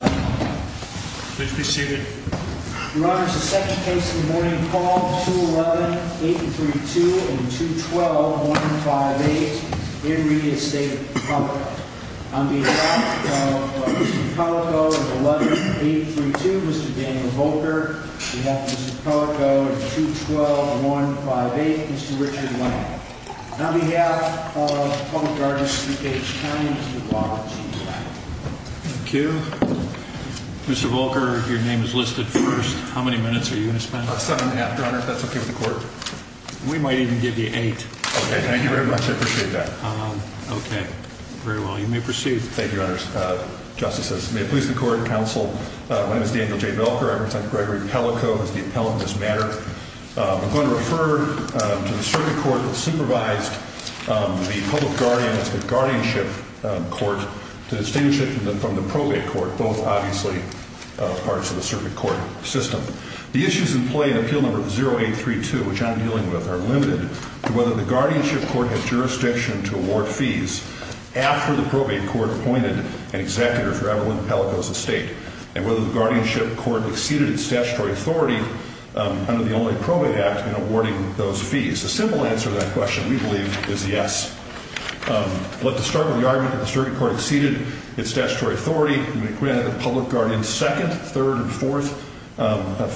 Please be seated. Your Honor, it's the second case in the morning, called 211-832 and 212-158 in re Estate of Pellico. On behalf of Mr. Pellico and 11832, Mr. Daniel Volker. On behalf of Mr. Pellico and 212-158, Mr. Richard Lamb. And on behalf of Public Artistry Page 9, Mr. Robert G. Lamb. Thank you. Mr. Volker, your name is listed first. How many minutes are you going to spend? Seven and a half, Your Honor, if that's okay with the court. We might even give you eight. Okay, thank you very much. I appreciate that. Okay, very well. You may proceed. Thank you, Your Honors. Justices, may it please the Court, Counsel, my name is Daniel J. Volker. I represent Gregory Pellico as the appellant in this matter. I'm going to refer to the circuit court that supervised the public guardian, that's the guardianship court, to distinguish it from the probate court, both obviously parts of the circuit court system. The issues in play in Appeal Number 0832, which I'm dealing with, are limited to whether the guardianship court has jurisdiction to award fees after the probate court appointed an executor for Evelyn Pellico's estate and whether the guardianship court exceeded its statutory authority under the Only Probate Act in awarding those fees. The simple answer to that question, we believe, is yes. Let's start with the argument that the circuit court exceeded its statutory authority when it granted the public guardian's second, third, and fourth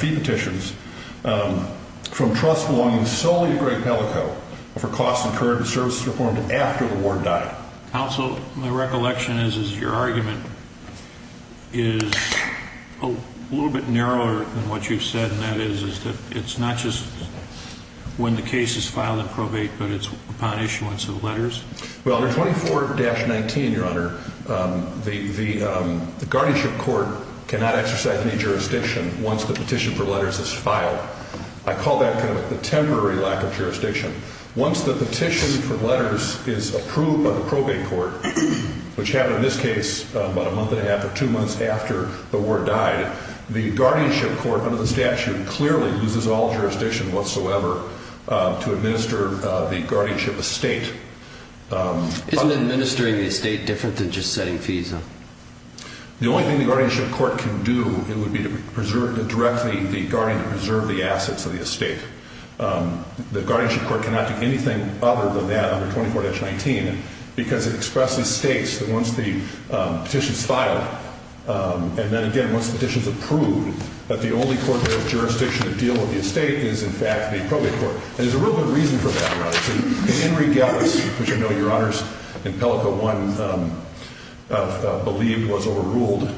fee petitions from trust belonging solely to Greg Pellico for costs incurred in services performed after the ward died. Counsel, my recollection is your argument is a little bit narrower than what you've said, and that is that it's not just when the case is filed in probate, but it's upon issuance of letters? Well, under 24-19, Your Honor, the guardianship court cannot exercise any jurisdiction once the petition for letters is filed. I call that kind of a temporary lack of jurisdiction. Once the petition for letters is approved by the probate court, which happened in this case about a month and a half or two months after the ward died, the guardianship court under the statute clearly loses all jurisdiction whatsoever to administer the guardianship estate. Isn't administering the estate different than just setting fees, though? The only thing the guardianship court can do would be to direct the guardian to preserve the assets of the estate. The guardianship court cannot do anything other than that under 24-19 because it expresses states that once the petition is filed, and then again once the petition is approved, that the only court that has jurisdiction to deal with the estate is, in fact, the probate court. And there's a real good reason for that, rather. In Henry Gevis, which I know Your Honors, in Pellico, one believed was overruled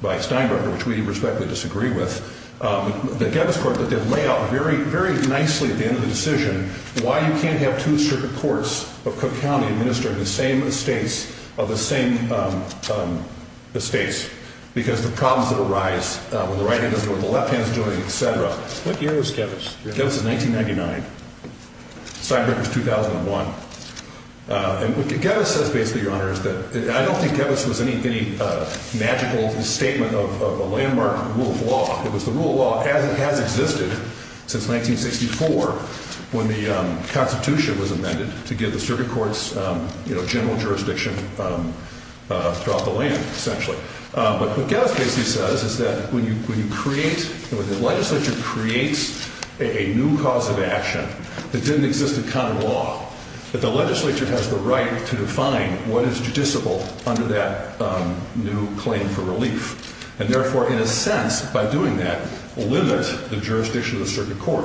by Steinberger, which we respectfully disagree with, the Gevis court did lay out very nicely at the end of the decision why you can't have two circuit courts of Cook County administering the same estates of the same estates because the problems that arise when the right hand is doing what the left hand is doing, et cetera. What year was Gevis? Gevis is 1999. Steinberger is 2001. And what Gevis says basically, Your Honor, is that I don't think Gevis was any magical statement of a landmark rule of law. It was the rule of law as it has existed since 1964 when the Constitution was amended to give the circuit courts general jurisdiction throughout the land, essentially. But what Gevis basically says is that when you create, when the legislature creates a new cause of action that didn't exist in county law, that the legislature has the right to define what is judiciable under that new claim for relief. And therefore, in a sense, by doing that, limit the jurisdiction of the circuit court.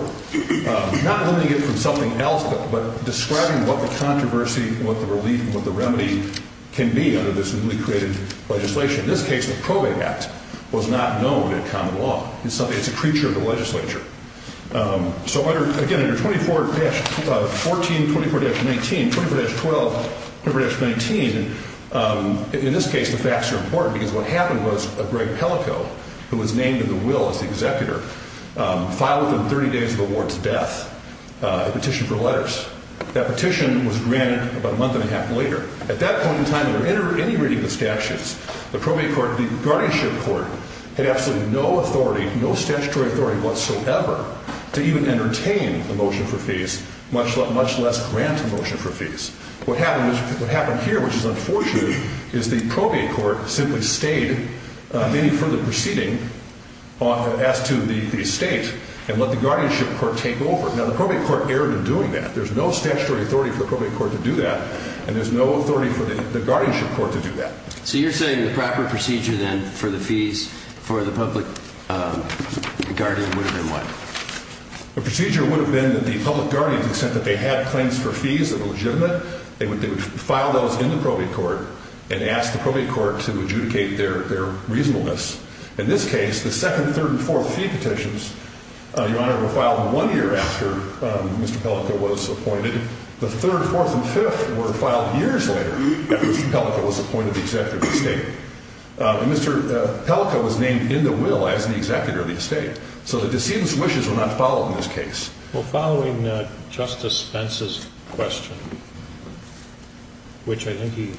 Not limiting it from something else, but describing what the controversy, what the relief, what the remedy can be under this newly created legislation. In this case, the Probate Act was not known in common law. It's a creature of the legislature. So again, under 24-14, 24-19, 24-12, 24-19, in this case, the facts are important because what happened was Greg Pelico, who was named in the will as the executor, filed within 30 days of the ward's death a petition for letters. That petition was granted about a month and a half later. At that point in time, under any reading of the statutes, the Probate Court, the guardianship court had absolutely no authority, no statutory authority whatsoever to even entertain a motion for fees, much less grant a motion for fees. What happened here, which is unfortunate, is the Probate Court simply stayed, meaning further proceeding, as to the estate and let the guardianship court take over. Now, the Probate Court erred in doing that. There's no statutory authority for the Probate Court to do that, and there's no authority for the guardianship court to do that. So you're saying the proper procedure then for the fees for the public guardian would have been what? The procedure would have been that the public guardians, the extent that they had claims for fees that were legitimate, they would file those in the Probate Court and ask the Probate Court to adjudicate their reasonableness. In this case, the second, third, and fourth fee petitions, Your Honor, were filed one year after Mr. Pelico was appointed. The third, fourth, and fifth were filed years later after Mr. Pelico was appointed the executor of the estate. So the decedent's wishes were not followed in this case. Well, following Justice Pence's question, which I think he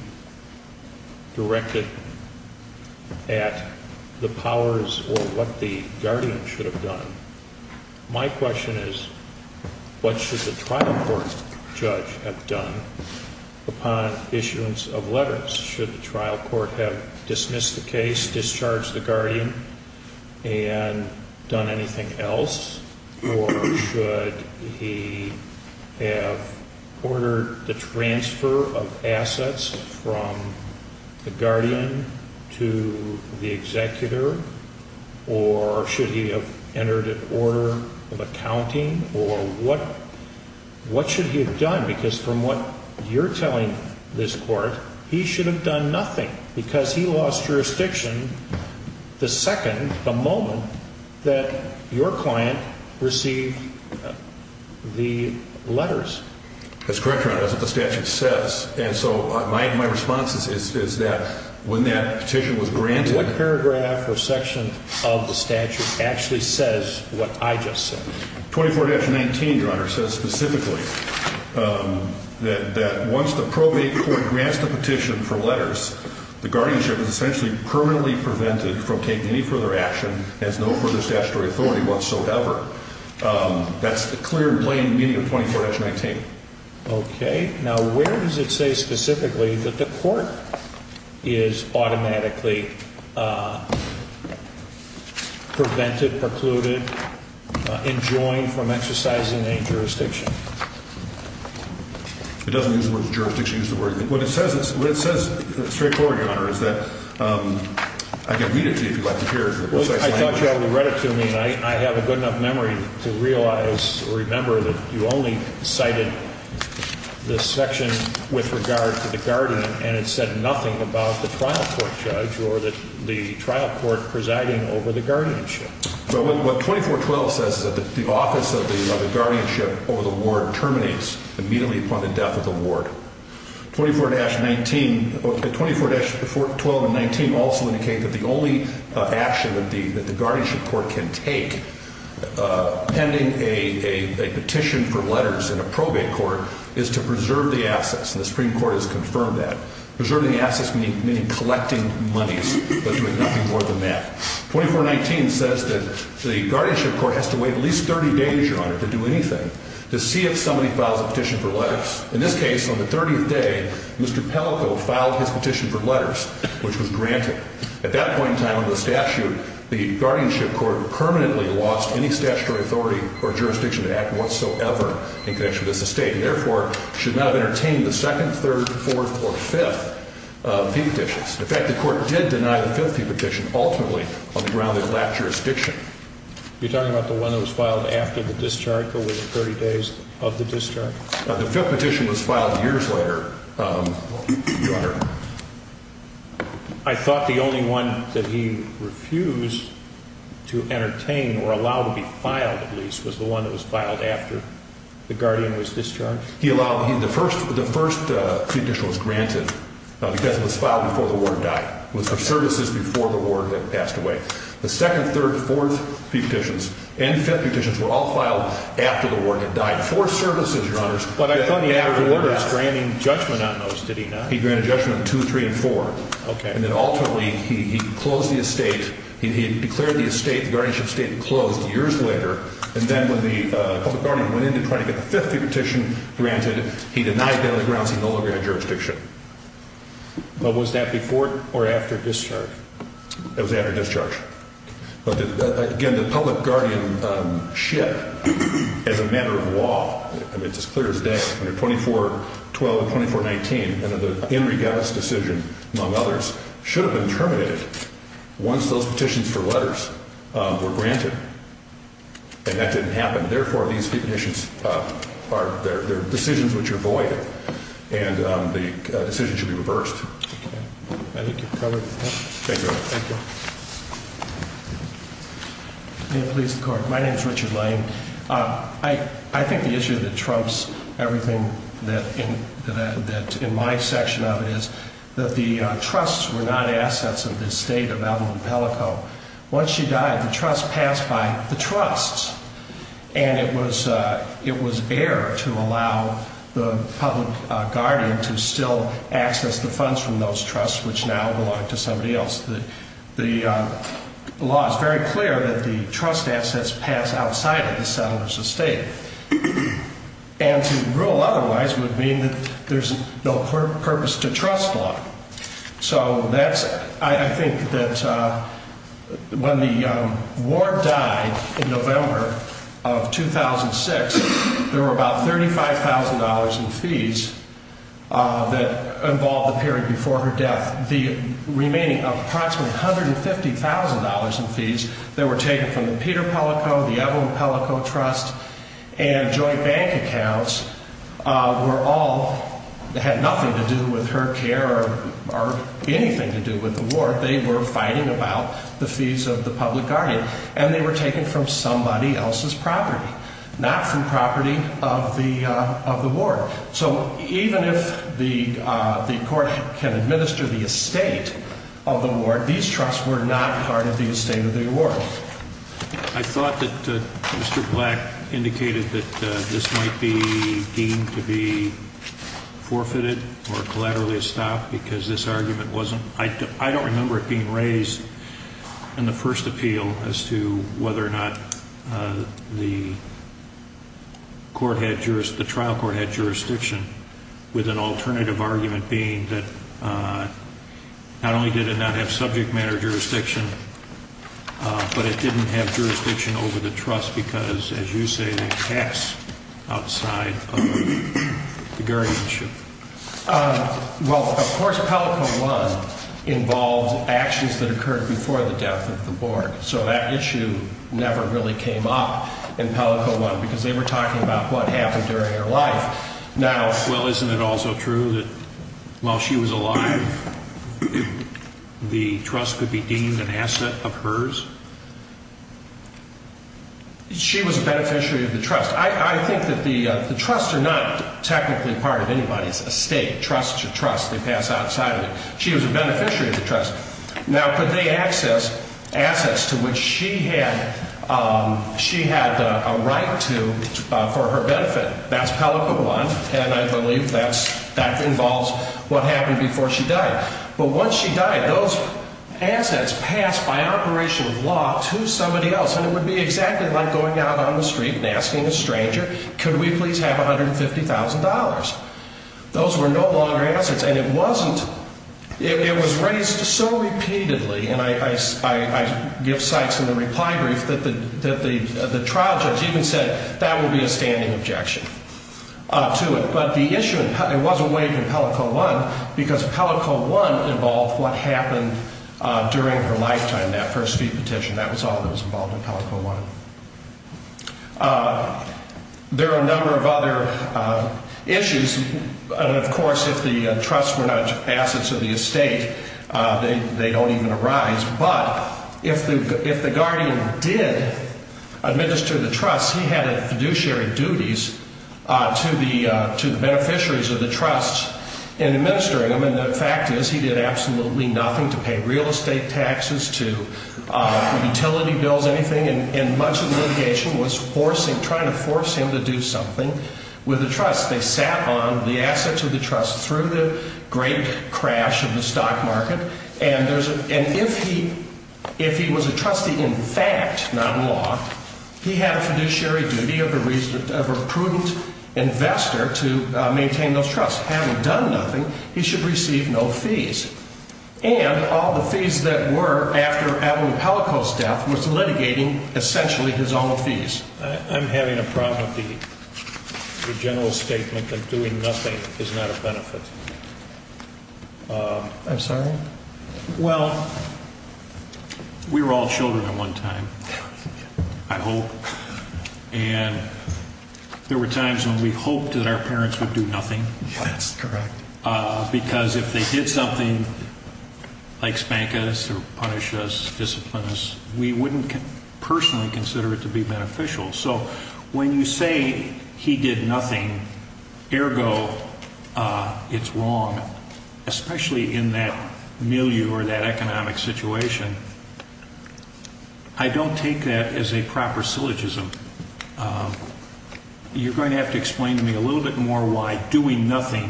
directed at the powers or what the guardian should have done, my question is what should the trial court judge have done upon issuance of letters? Should the trial court have dismissed the case, discharged the guardian, and done anything else? Or should he have ordered the transfer of assets from the guardian to the executor? Or should he have entered an order of accounting? Or what should he have done? Because from what you're telling this court, he should have done nothing because he lost jurisdiction the second, the moment that your client received the letters. That's correct, Your Honor. That's what the statute says. And so my response is that when that petition was granted... What paragraph or section of the statute actually says what I just said? 24-19, Your Honor, says specifically that once the Probate Court grants the petition for letters, the guardianship is essentially permanently prevented from taking any further action, has no further statutory authority whatsoever. That's the clear blame meeting of 24-19. Okay. Now, where does it say specifically that the court is automatically prevented, precluded, enjoined from exercising any jurisdiction? It doesn't use the word jurisdiction. It uses the word... What it says is straightforward, Your Honor, is that... I can read it to you if you'd like to hear it. I thought you already read it to me, and I have a good enough memory to realize or remember that you only cited this section with regard to the guardian, and it said nothing about the trial court judge or the trial court presiding over the guardianship. Well, what 24-12 says is that the office of the guardianship over the ward terminates immediately upon the death of the ward. 24-19... 24-12 and 19 also indicate that the only action that the guardianship court can take pending a petition for letters in a probate court is to preserve the assets, and the Supreme Court has confirmed that. Preserving the assets meaning collecting monies, but doing nothing more than that. 24-19 says that the guardianship court has to wait at least 30 days, Your Honor, to do anything to see if somebody files a petition for letters. In this case, on the 30th day, Mr. Pellico filed his petition for letters, which was granted. At that point in time, under the statute, the guardianship court permanently lost any statutory authority or jurisdiction to act whatsoever in connection with this estate, and therefore should not have entertained the second, third, fourth, or fifth fee petitions. In fact, the court did deny the fifth fee petition ultimately on the ground that it lacked jurisdiction. You're talking about the one that was filed after the discharge, or within 30 days of the discharge? The fifth petition was filed years later, Your Honor. I thought the only one that he refused to entertain or allow to be filed, at least, was the one that was filed after the guardian was discharged? The first fee petition was granted because it was filed before the ward died. It was for services before the ward had passed away. The second, third, fourth fee petitions and fifth fee petitions were all filed after the ward had died. For services, Your Honor. But I thought the average warder was granting judgment on those, did he not? He granted judgment on two, three, and four. Okay. And then ultimately, he closed the estate. He declared the estate, the guardianship estate, closed years later. And then when the public guardian went in to try to get the fifth fee petition granted, he denied that on the grounds he no longer had jurisdiction. But was that before or after discharge? It was after discharge. But, again, the public guardianship, as a matter of law, and it's as clear as day, under 2412 and 2419, under the Enriquez decision, among others, should have been terminated once those petitions for letters were granted. And that didn't happen. Therefore, these fee petitions are decisions which are void, and the decision should be reversed. Okay. I think you've covered it. Thank you, Your Honor. Thank you. May it please the Court. My name is Richard Lane. I think the issue that trumps everything that in my section of it is that the trusts were not assets of the estate of Evelyn Pellico. Once she died, the trust passed by the trusts, and it was air to allow the public guardian to still access the funds from those trusts, which now belong to somebody else. The law is very clear that the trust assets pass outside of the settler's estate. And to rule otherwise would mean that there's no purpose to trust law. So I think that when the ward died in November of 2006, there were about $35,000 in fees that involved the period before her death. The remaining approximately $150,000 in fees that were taken from the Peter Pellico, the Evelyn Pellico Trust, and joint bank accounts were all, had nothing to do with her care or anything to do with the ward. They were fighting about the fees of the public guardian, and they were taken from somebody else's property, not from property of the ward. So even if the court can administer the estate of the ward, these trusts were not part of the estate of the ward. Well, I thought that Mr. Black indicated that this might be deemed to be forfeited or collaterally a stop because this argument wasn't, I don't remember it being raised in the first appeal as to whether or not the court had, the trial court had jurisdiction with an alternative argument being that not only did it not have subject matter jurisdiction, but it didn't have jurisdiction over the trust because, as you say, the tax outside of the guardianship. Well, of course, Pellico I involved actions that occurred before the death of the ward, so that issue never really came up in Pellico I because they were talking about what happened during her life. Well, isn't it also true that while she was alive, the trust could be deemed an asset of hers? She was a beneficiary of the trust. I think that the trusts are not technically part of anybody's estate. Trusts are trusts. They pass outside of it. She was a beneficiary of the trust. Now, could they access assets to which she had a right to for her benefit? That's Pellico I, and I believe that involves what happened before she died. But once she died, those assets passed by operation of law to somebody else, and it would be exactly like going out on the street and asking a stranger, could we please have $150,000? Those were no longer assets, and it wasn't, it was raised so repeatedly, and I give sites in the reply brief that the trial judge even said that would be a standing objection to it. But the issue, it wasn't waived in Pellico I because Pellico I involved what happened during her lifetime, that first fee petition. That was all that was involved in Pellico I. There are a number of other issues. Of course, if the trusts were not assets of the estate, they don't even arise. But if the guardian did administer the trusts, he had fiduciary duties to the beneficiaries of the trusts in administering them, and the fact is he did absolutely nothing to pay real estate taxes, to utility bills, anything, and much of the litigation was trying to force him to do something with the trusts. They sat on the assets of the trusts through the great crash of the stock market, and if he was a trustee in fact, not in law, he had a fiduciary duty of a prudent investor to maintain those trusts. Having done nothing, he should receive no fees, and all the fees that were after Adam Pellico's death was litigating essentially his own fees. I'm having a problem with the general statement that doing nothing is not a benefit. I'm sorry? Well, we were all children at one time, I hope, and there were times when we hoped that our parents would do nothing. That's correct. Because if they did something like spank us or punish us, discipline us, we wouldn't personally consider it to be beneficial. So when you say he did nothing, ergo it's wrong, especially in that milieu or that economic situation, I don't take that as a proper syllogism. You're going to have to explain to me a little bit more why doing nothing,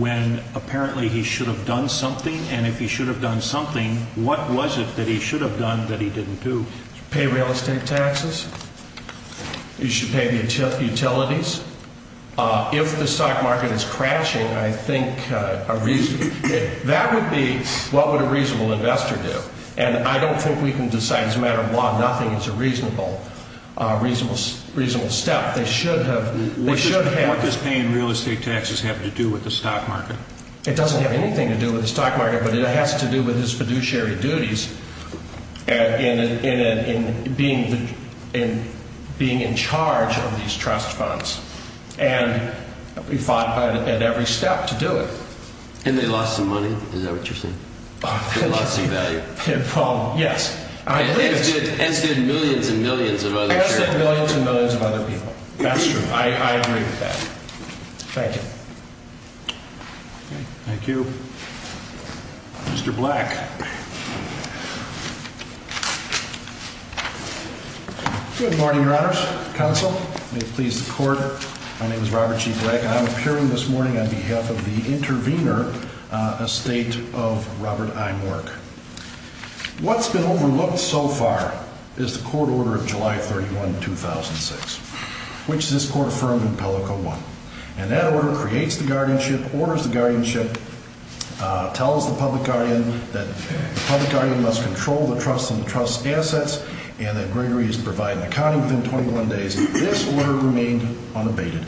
when apparently he should have done something, and if he should have done something, what was it that he should have done that he didn't do? Pay real estate taxes. He should pay utilities. If the stock market is crashing, I think that would be what would a reasonable investor do, and I don't think we can decide as a matter of law nothing is a reasonable step. What does paying real estate taxes have to do with the stock market? It doesn't have anything to do with the stock market, but it has to do with his fiduciary duties in being in charge of these trust funds, and he fought at every step to do it. And they lost some money, is that what you're saying? They lost some value. Yes. And it's good millions and millions of other people. I said millions and millions of other people. That's true. I agree with that. Thank you. Thank you. Mr. Black. Good morning, Your Honors. Counsel, may it please the Court, my name is Robert G. Black, and I'm appearing this morning on behalf of the intervener, Estate of Robert I. Mork. What's been overlooked so far is the court order of July 31, 2006, which this Court affirmed in Pellico I, and that order creates the guardianship, orders the guardianship, tells the public guardian that the public guardian must control the trust and the trust's assets, and that Gregory is to provide an accounting within 21 days. This order remained unabated.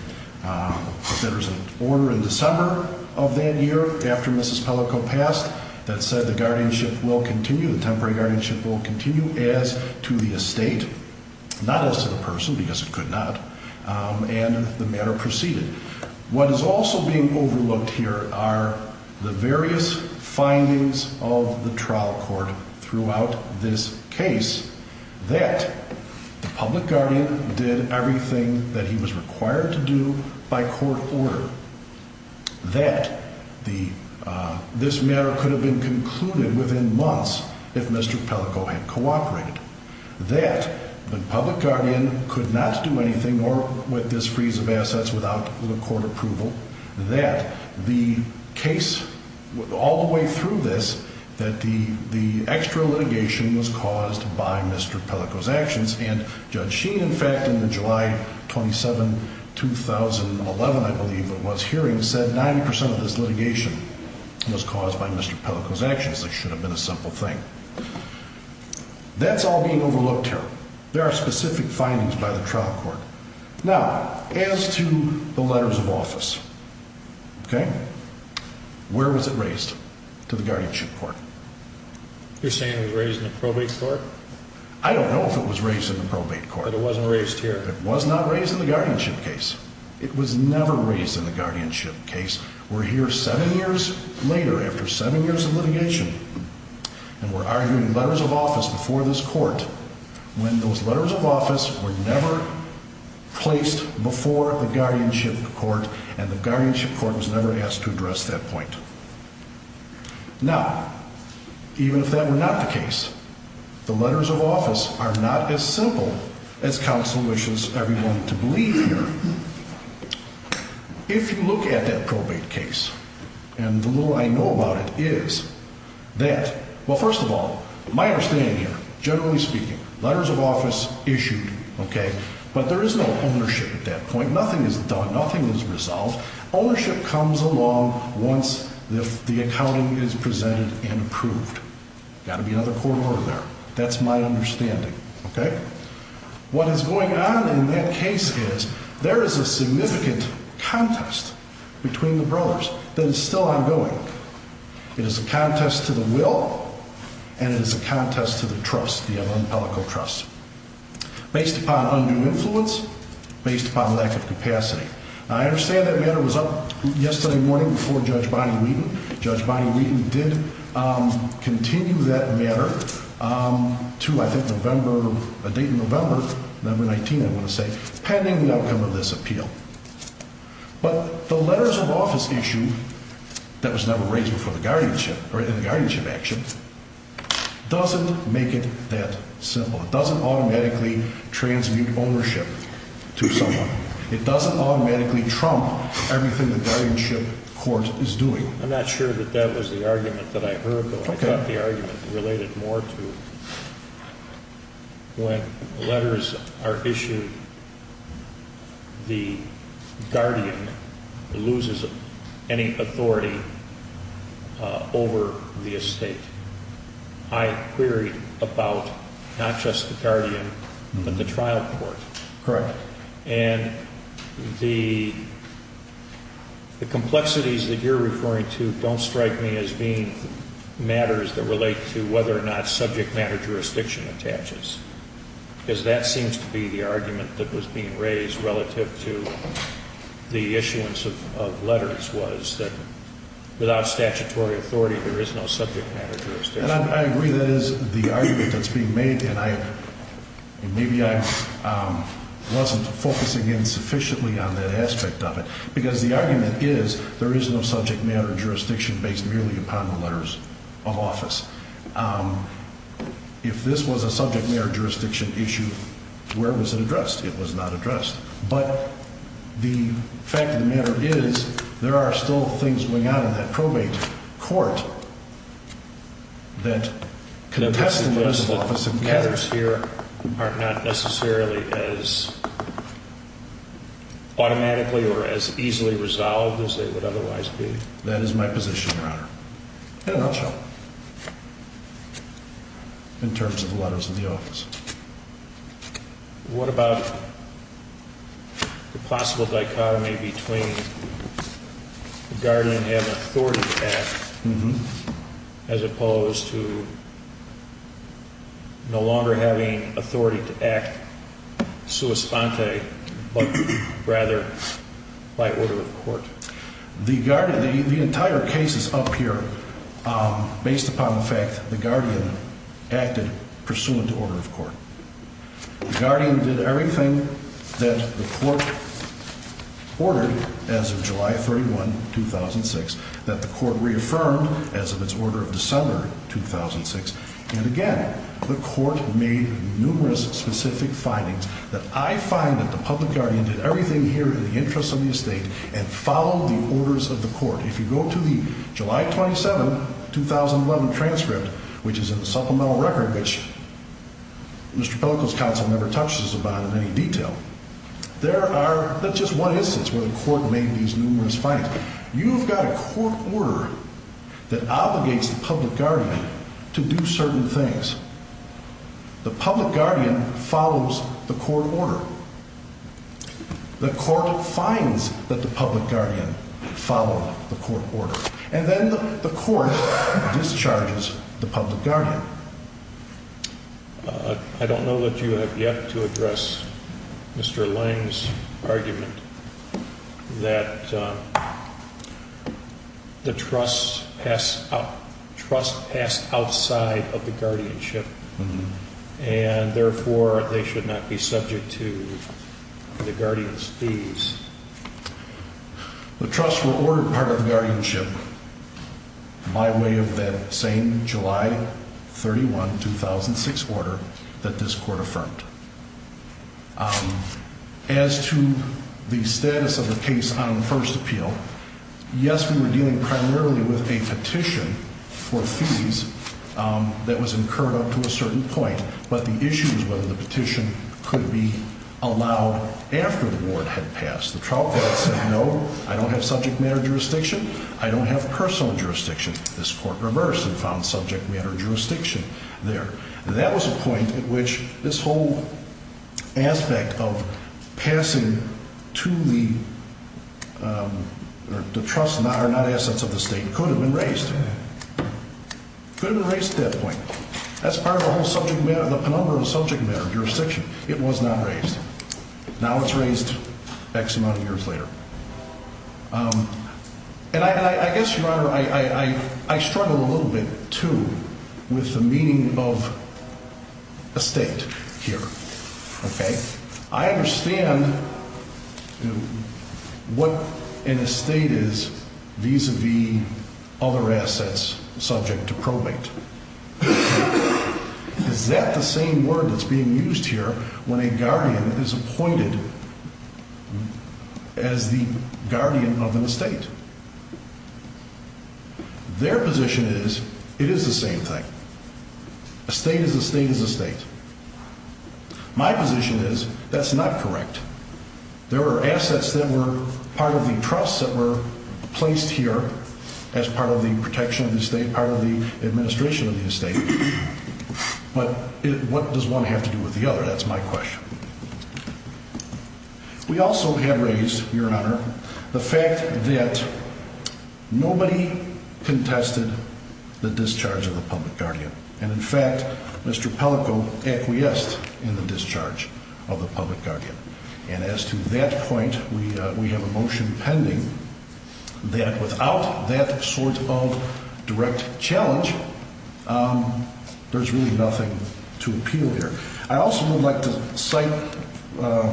There was an order in December of that year, after Mrs. Pellico passed, that said the guardianship will continue, the temporary guardianship will continue, as to the estate, not as to the person because it could not, and the matter proceeded. What is also being overlooked here are the various findings of the trial court throughout this case that the public guardian did everything that he was required to do by court order, that this matter could have been concluded within months if Mr. Pellico had cooperated, that the public guardian could not do anything more with this freeze of assets without the court approval, that the case, all the way through this, that the extra litigation was caused by Mr. Pellico's actions, and Judge Sheen, in fact, in the July 27, 2011, I believe it was, hearing, said 90 percent of this litigation was caused by Mr. Pellico's actions. It should have been a simple thing. That's all being overlooked here. There are specific findings by the trial court. Now, as to the letters of office, okay, where was it raised to the guardianship court? You're saying it was raised in the probate court? I don't know if it was raised in the probate court. But it wasn't raised here? It was not raised in the guardianship case. It was never raised in the guardianship case. We're here seven years later, after seven years of litigation, and we're arguing letters of office before this court, when those letters of office were never placed before the guardianship court, and the guardianship court was never asked to address that point. Now, even if that were not the case, the letters of office are not as simple as counsel wishes everyone to believe here. If you look at that probate case, and the little I know about it is that, well, first of all, my understanding here, generally speaking, letters of office issued, okay, but there is no ownership at that point. Nothing is done. Nothing is resolved. Ownership comes along once the accounting is presented and approved. Got to be another court order there. That's my understanding, okay? What is going on in that case is there is a significant contest between the brothers that is still ongoing. It is a contest to the will, and it is a contest to the trust, the Amon-Pellico trust, based upon undue influence, based upon lack of capacity. Now, I understand that matter was up yesterday morning before Judge Bonnie Wheaton. Judge Bonnie Wheaton did continue that matter to, I think, November, a date in November, November 19, I want to say, pending the outcome of this appeal. But the letters of office issue that was never raised before the guardianship, or in the guardianship action, doesn't make it that simple. It doesn't automatically transmute ownership to someone. It doesn't automatically trump everything the guardianship court is doing. I'm not sure that that was the argument that I heard, though. I thought the argument related more to when letters are issued, the guardian loses any authority over the estate. I query about not just the guardian, but the trial court. Correct. And the complexities that you're referring to don't strike me as being matters that relate to whether or not subject matter jurisdiction attaches, because that seems to be the argument that was being raised relative to the issuance of letters, was that without statutory authority, there is no subject matter jurisdiction. I agree that is the argument that's being made, and maybe I wasn't focusing in sufficiently on that aspect of it, because the argument is there is no subject matter jurisdiction based merely upon the letters of office. If this was a subject matter jurisdiction issue, where was it addressed? It was not addressed. But the fact of the matter is there are still things going on in that probate court that contest the letters of office. The matters here are not necessarily as automatically or as easily resolved as they would otherwise be. That is my position, Your Honor, in a nutshell, in terms of the letters of the office. What about the possible dichotomy between the guardian having authority to act, as opposed to no longer having authority to act sua sponte, but rather by order of court? The entire case is up here based upon the fact the guardian acted pursuant to order of court. The guardian did everything that the court ordered as of July 31, 2006, that the court reaffirmed as of its order of December 2006, and again, the court made numerous specific findings that I find that the public guardian did everything here in the interest of the estate and followed the orders of the court. If you go to the July 27, 2011 transcript, which is in the supplemental record, which Mr. Pellickel's counsel never touches about in any detail, there are not just one instance where the court made these numerous findings. You've got a court order that obligates the public guardian to do certain things. The public guardian follows the court order. The court finds that the public guardian followed the court order, and then the court discharges the public guardian. I don't know that you have yet to address Mr. Lange's argument that the trust passed outside of the guardianship, and therefore they should not be subject to the guardians' fees. The trust were ordered part of the guardianship by way of that same July 31, 2006 order that this court affirmed. As to the status of the case on first appeal, yes, we were dealing primarily with a petition for fees that was incurred up to a certain point, but the issue was whether the petition could be allowed after the ward had passed. The trial court said, no, I don't have subject matter jurisdiction. I don't have personal jurisdiction. This court reversed and found subject matter jurisdiction there. That was a point at which this whole aspect of passing to the trusts that are not assets of the state could have been raised. Could have been raised at that point. That's part of the whole subject matter, the penumbra of subject matter jurisdiction. It was not raised. Now it's raised X amount of years later. And I guess, Your Honor, I struggle a little bit, too, with the meaning of estate here. Okay? I understand what an estate is vis-a-vis other assets subject to probate. Is that the same word that's being used here when a guardian is appointed as the guardian of an estate? Their position is it is the same thing. Estate is estate is estate. My position is that's not correct. There were assets that were part of the trust that were placed here as part of the protection of the estate, part of the administration of the estate. But what does one have to do with the other? That's my question. We also have raised, Your Honor, the fact that nobody contested the discharge of the public guardian. And, in fact, Mr. Pellico acquiesced in the discharge of the public guardian. And as to that point, we have a motion pending that without that sort of direct challenge, there's really nothing to appeal here. I also would like to cite,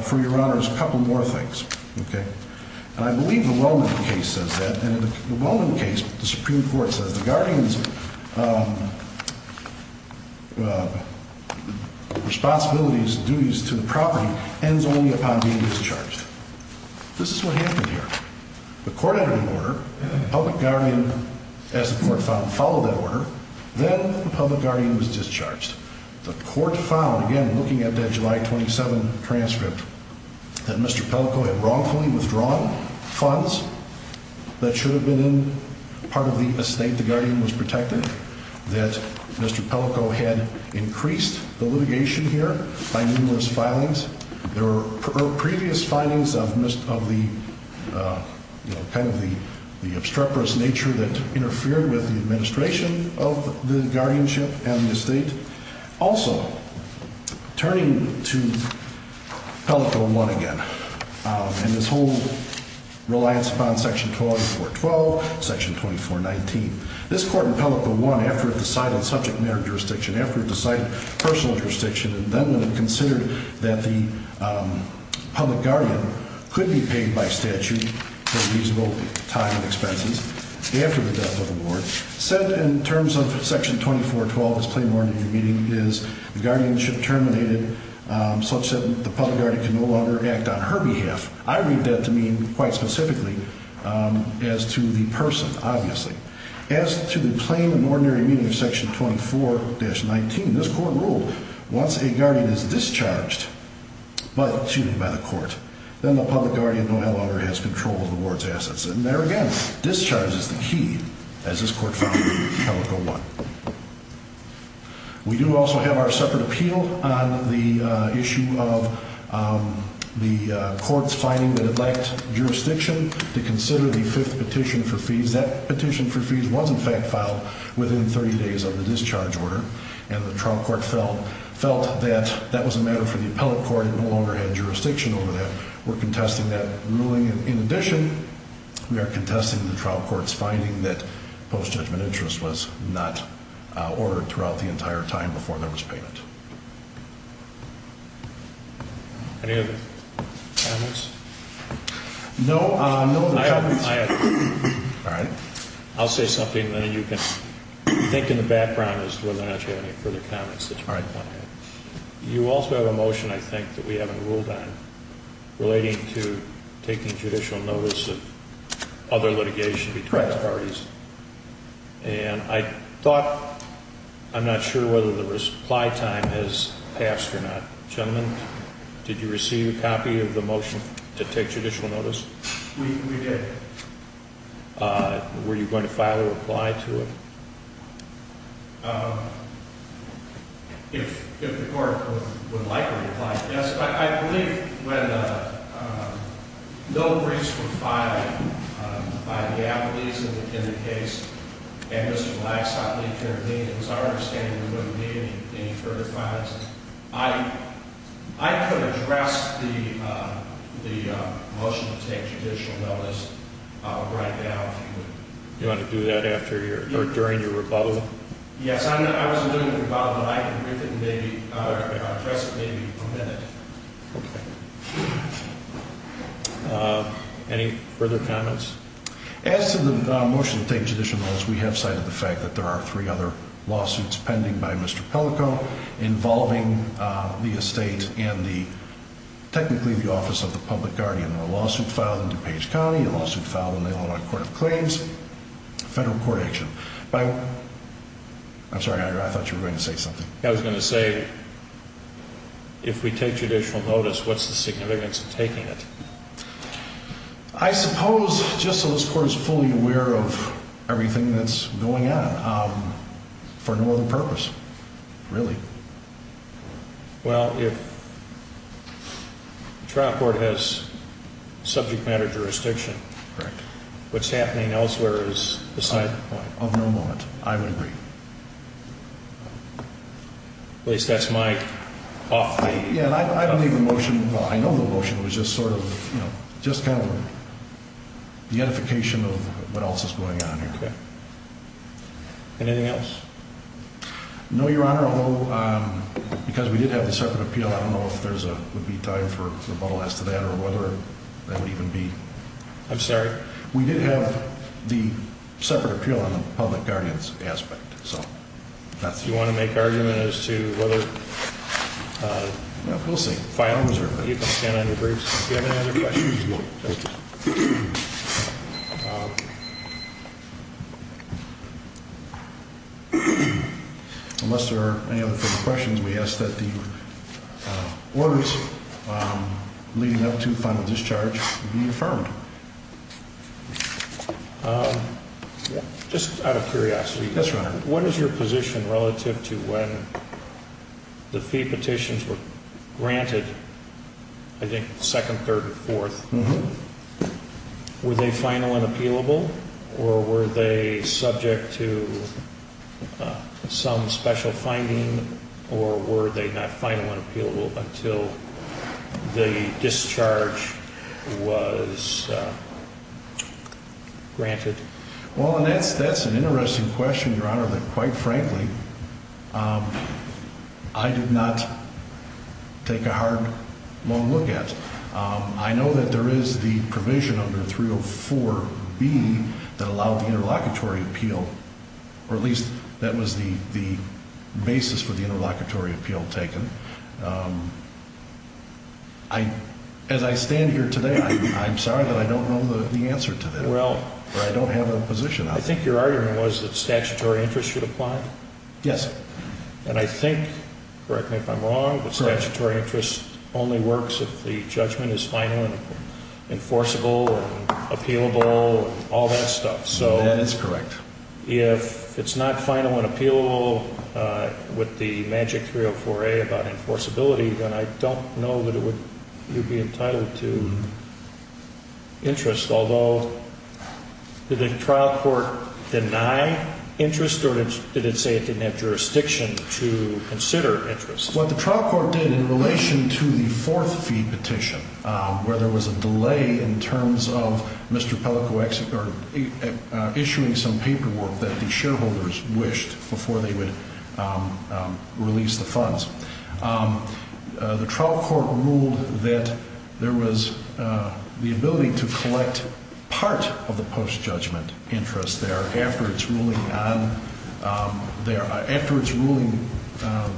for Your Honor, a couple more things. Okay? I believe the Wellman case says that. And in the Wellman case, the Supreme Court says the guardian's responsibilities and duties to the property ends only upon being discharged. This is what happened here. The court entered an order. The public guardian, as the court found, followed that order. Then the public guardian was discharged. The court found, again, looking at that July 27 transcript, that Mr. Pellico had wrongfully withdrawn funds that should have been in part of the estate the guardian was protecting, that Mr. Pellico had increased the litigation here by numerous filings. There were previous findings of the, you know, kind of the obstreperous nature that interfered with the administration of the guardianship and the estate. Also, turning to Pellico I again, and this whole reliance upon Section 2412, Section 2419, this court in Pellico I, after it decided on subject matter jurisdiction, after it decided personal jurisdiction, and then when it considered that the public guardian could be paid by statute for reasonable time and expenses after the death of the ward, said in terms of Section 2412 as plain worded in the meeting, is the guardianship terminated such that the public guardian can no longer act on her behalf. I read that to mean quite specifically as to the person, obviously. As to the plain and ordinary meaning of Section 24-19, this court ruled once a guardian is discharged by the court, then the public guardian no longer has control of the ward's assets. And there again, discharge is the key, as this court found in Pellico I. We do also have our separate appeal on the issue of the court's finding that it lacked jurisdiction to consider the fifth petition for fees. That petition for fees was in fact filed within 30 days of the discharge order, and the trial court felt that that was a matter for the appellate court. It no longer had jurisdiction over that. We're contesting that ruling. In addition, we are contesting the trial court's finding that post-judgment interest was not ordered throughout the entire time before there was payment. Any other comments? No. I have one. All right. I'll say something, and then you can think in the background as to whether or not you have any further comments. All right. You also have a motion, I think, that we haven't ruled on relating to taking judicial notice of other litigation between the parties. And I'm not sure whether the reply time has passed or not. Gentlemen, did you receive a copy of the motion to take judicial notice? We did. Were you going to file a reply to it? If the court would like a reply, yes. I believe when no briefs were filed by the appellees in the case and Mr. Black's not being convened, it was our understanding there wouldn't be any further files. I could address the motion to take judicial notice right now. You want to do that during your rebuttal? Yes. I wasn't doing a rebuttal, but I can address it maybe in a minute. Okay. Any further comments? As to the motion to take judicial notice, we have cited the fact that there are three other lawsuits pending by Mr. Pellico involving the estate and technically the office of the public guardian. A lawsuit filed in DuPage County, a lawsuit filed in the Illinois Court of Claims, federal court action. I'm sorry, I thought you were going to say something. I was going to say if we take judicial notice, what's the significance of taking it? I suppose just so this court is fully aware of everything that's going on for no other purpose, really. Well, if the trial court has subject matter jurisdiction, what's happening elsewhere is the same. Of no moment, I would agree. At least that's my off-putting. I believe the motion, I know the motion was just sort of, you know, just kind of the edification of what else is going on here. Okay. Anything else? No, Your Honor. Although, because we did have the separate appeal, I don't know if there would be time for rebuttal as to that or whether that would even be. I'm sorry? We did have the separate appeal on the public guardian's aspect. You want to make argument as to whether? We'll see. If I don't reserve it. You can stand on your briefs. If you have any other questions. No. Thank you. Unless there are any other further questions, we ask that the orders leading up to final discharge be affirmed. Just out of curiosity. Yes, Your Honor. What is your position relative to when the fee petitions were granted, I think second, third, and fourth. Were they final and appealable or were they subject to some special finding or were they not final and appealable until the discharge was granted? Well, that's an interesting question, Your Honor, that quite frankly I did not take a hard, long look at. I know that there is the provision under 304B that allowed the interlocutory appeal, or at least that was the basis for the interlocutory appeal taken. As I stand here today, I'm sorry that I don't know the answer to that. I don't have a position. I think your argument was that statutory interest should apply. Yes. And I think, correct me if I'm wrong, but statutory interest only works if the judgment is final and enforceable and appealable and all that stuff. That is correct. If it's not final and appealable with the magic 304A about enforceability, then I don't know that you would be entitled to interest. Although, did the trial court deny interest or did it say it didn't have jurisdiction to consider interest? What the trial court did in relation to the fourth fee petition, where there was a delay in terms of Mr. Pellicox issuing some paperwork that the shareholders wished before they would release the funds, the trial court ruled that there was the ability to collect part of the post-judgment interest there after its ruling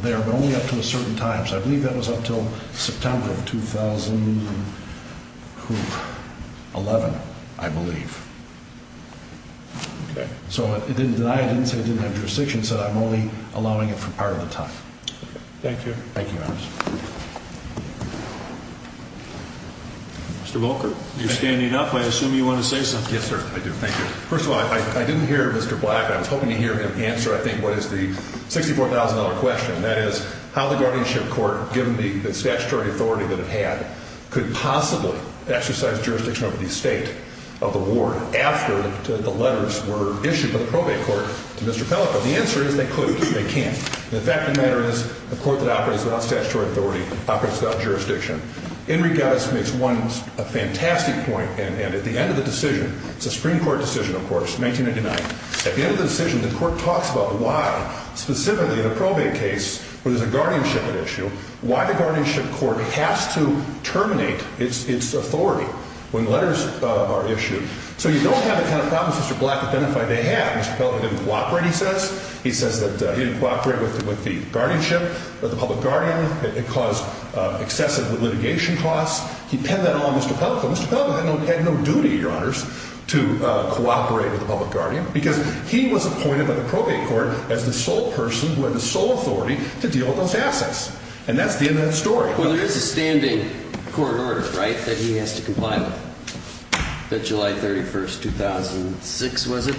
there, but only up to a certain time. So I believe that was up until September of 2011, I believe. Okay. So it didn't deny it, didn't say it didn't have jurisdiction, said I'm only allowing it for part of the time. Thank you. Thank you, Your Honor. Mr. Volker, you're standing up. I assume you want to say something. Yes, sir, I do. Thank you. First of all, I didn't hear Mr. Black. I was hoping to hear him answer, I think, what is the $64,000 question. That is, how the guardianship court, given the statutory authority that it had, could possibly exercise jurisdiction over the estate of the ward after the letters were issued to the probate court to Mr. Pellicox. The answer is they couldn't. They can't. The fact of the matter is a court that operates without statutory authority operates without jurisdiction. In regards to this one fantastic point, and at the end of the decision, it's a Supreme Court decision, of course, 1999. At the end of the decision, the court talks about why, specifically in a probate case where there's a guardianship at issue, why the guardianship court has to terminate its authority when letters are issued. So you don't have the kind of problems Mr. Black identified they had. Mr. Pellicox didn't cooperate, he says. He didn't cooperate with the guardianship, with the public guardian. It caused excessive litigation costs. He penned that all on Mr. Pellicox. Mr. Pellicox had no duty, Your Honors, to cooperate with the public guardian because he was appointed by the probate court as the sole person who had the sole authority to deal with those assets. And that's the end of that story. Well, there is a standing court order, right, that he has to comply with. That July 31, 2006, was it?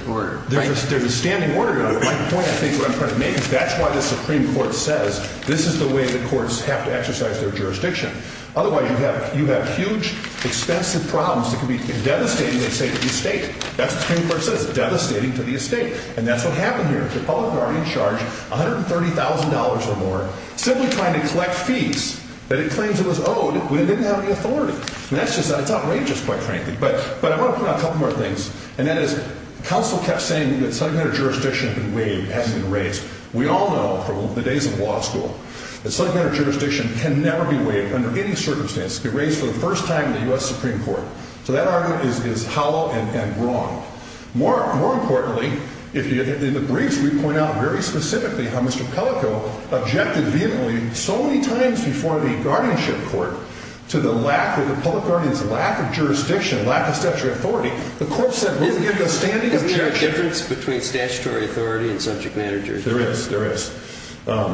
There's a standing order. My point, I think, what I'm trying to make is that's why the Supreme Court says this is the way the courts have to exercise their jurisdiction. Otherwise, you have huge, expensive problems that could be devastating, they say, to the estate. That's what the Supreme Court says, devastating to the estate. And that's what happened here. The public guardian charged $130,000 or more simply trying to collect fees that it claims it was owed when it didn't have the authority. And that's just, it's outrageous, quite frankly. But I want to point out a couple more things, and that is counsel kept saying that subordinate jurisdiction had been waived, hasn't been raised. We all know from the days of law school that subordinate jurisdiction can never be waived under any circumstance. It can be raised for the first time in the U.S. Supreme Court. So that argument is hollow and wrong. More importantly, in the briefs, we point out very specifically how Mr. Pellicox objected vehemently so many times before the guardianship court to the lack, the guardians' lack of jurisdiction, lack of statutory authority. The court said we'll give you a standing objection. Isn't there a difference between statutory authority and subject matter jurisdiction? There is. There is.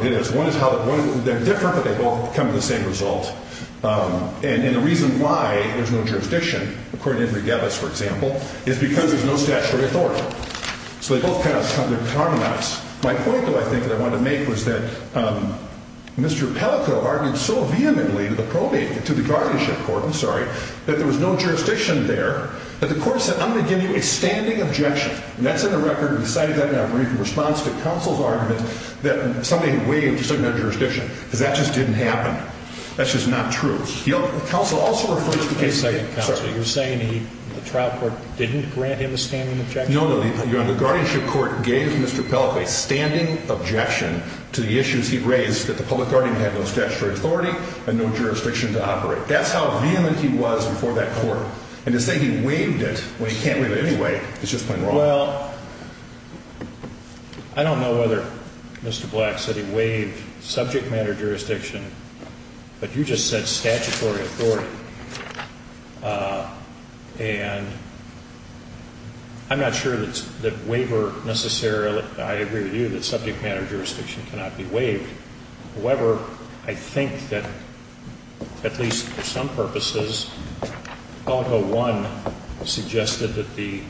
It is. One is how they're different, but they both come to the same result. And the reason why there's no jurisdiction, according to Henry Gavis, for example, is because there's no statutory authority. So they both kind of come to harmonize. My point, though, I think, that I wanted to make was that Mr. Pellicox argued so vehemently to the probation, to the guardianship court, I'm sorry, that there was no jurisdiction there, that the court said I'm going to give you a standing objection. And that's in the record. We decided that in our brief response to counsel's argument that somebody had waived the subject matter jurisdiction because that just didn't happen. That's just not true. The counsel also referred to the case. Wait a second, counsel. You're saying the trial court didn't grant him a standing objection? No, no. The guardianship court gave Mr. Pellicox a standing objection to the issues he raised, that the public guardian had no statutory authority and no jurisdiction to operate. That's how vehement he was before that court. And to say he waived it when he can't waive it anyway is just plain wrong. Well, I don't know whether Mr. Black said he waived subject matter jurisdiction, but you just said statutory authority. And I'm not sure that waiver necessarily, I agree with you, that subject matter jurisdiction cannot be waived. However, I think that at least for some purposes, Pellico I suggested that the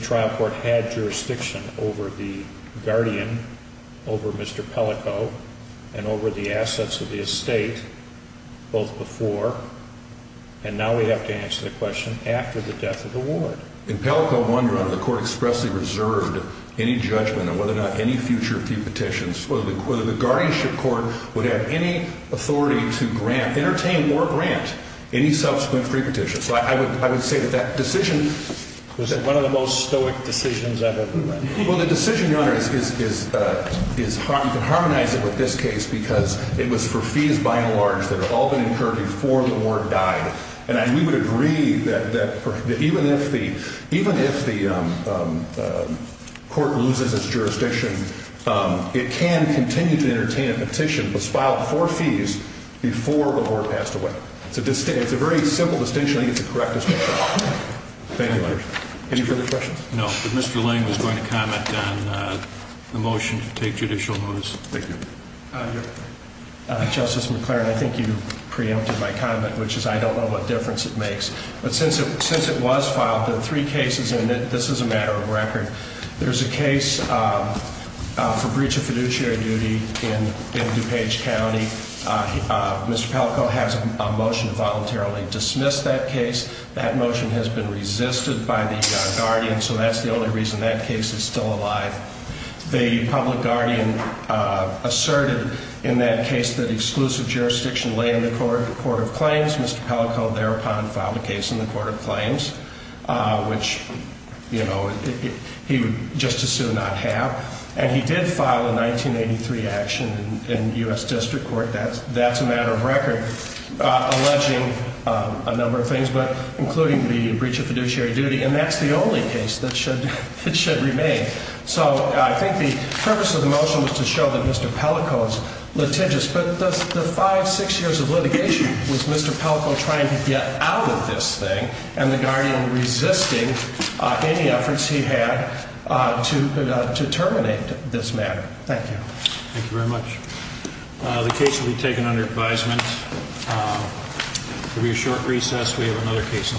trial court had jurisdiction over the guardian, over Mr. Pellicox, and over the assets of the estate, both before, and now we have to answer the question, after the death of the ward. In Pellico I, Your Honor, the court expressly reserved any judgment on whether or not any future fee petitions, whether the guardianship court would have any authority to grant, entertain or grant, any subsequent free petition. So I would say that that decision- Was it one of the most stoic decisions I've ever read? Well, the decision, Your Honor, is harmonizing with this case because it was for fees by and large that had all been incurred before the ward died. And we would agree that even if the court loses its jurisdiction, it can continue to entertain a petition that's filed for fees before the ward passed away. It's a very simple distinction, I think it's a correct distinction. Thank you, Your Honor. Any further questions? No, but Mr. Lang was going to comment on the motion to take judicial notice. Thank you. Justice McLaren, I think you preempted my comment, which is I don't know what difference it makes. But since it was filed, there are three cases in it. This is a matter of record. There's a case for breach of fiduciary duty in DuPage County. Mr. Pellico has a motion to voluntarily dismiss that case. That motion has been resisted by the guardian, so that's the only reason that case is still alive. The public guardian asserted in that case that exclusive jurisdiction lay in the court of claims. Mr. Pellico thereupon filed a case in the court of claims, which he would just as soon not have. And he did file a 1983 action in U.S. District Court. That's a matter of record, alleging a number of things, including the breach of fiduciary duty. And that's the only case that should remain. So I think the purpose of the motion was to show that Mr. Pellico is litigious. But the five, six years of litigation was Mr. Pellico trying to get out of this thing, and the guardian resisting any efforts he had to terminate this matter. Thank you. Thank you very much. The case will be taken under advisement. It will be a short recess. We have another case in the fall.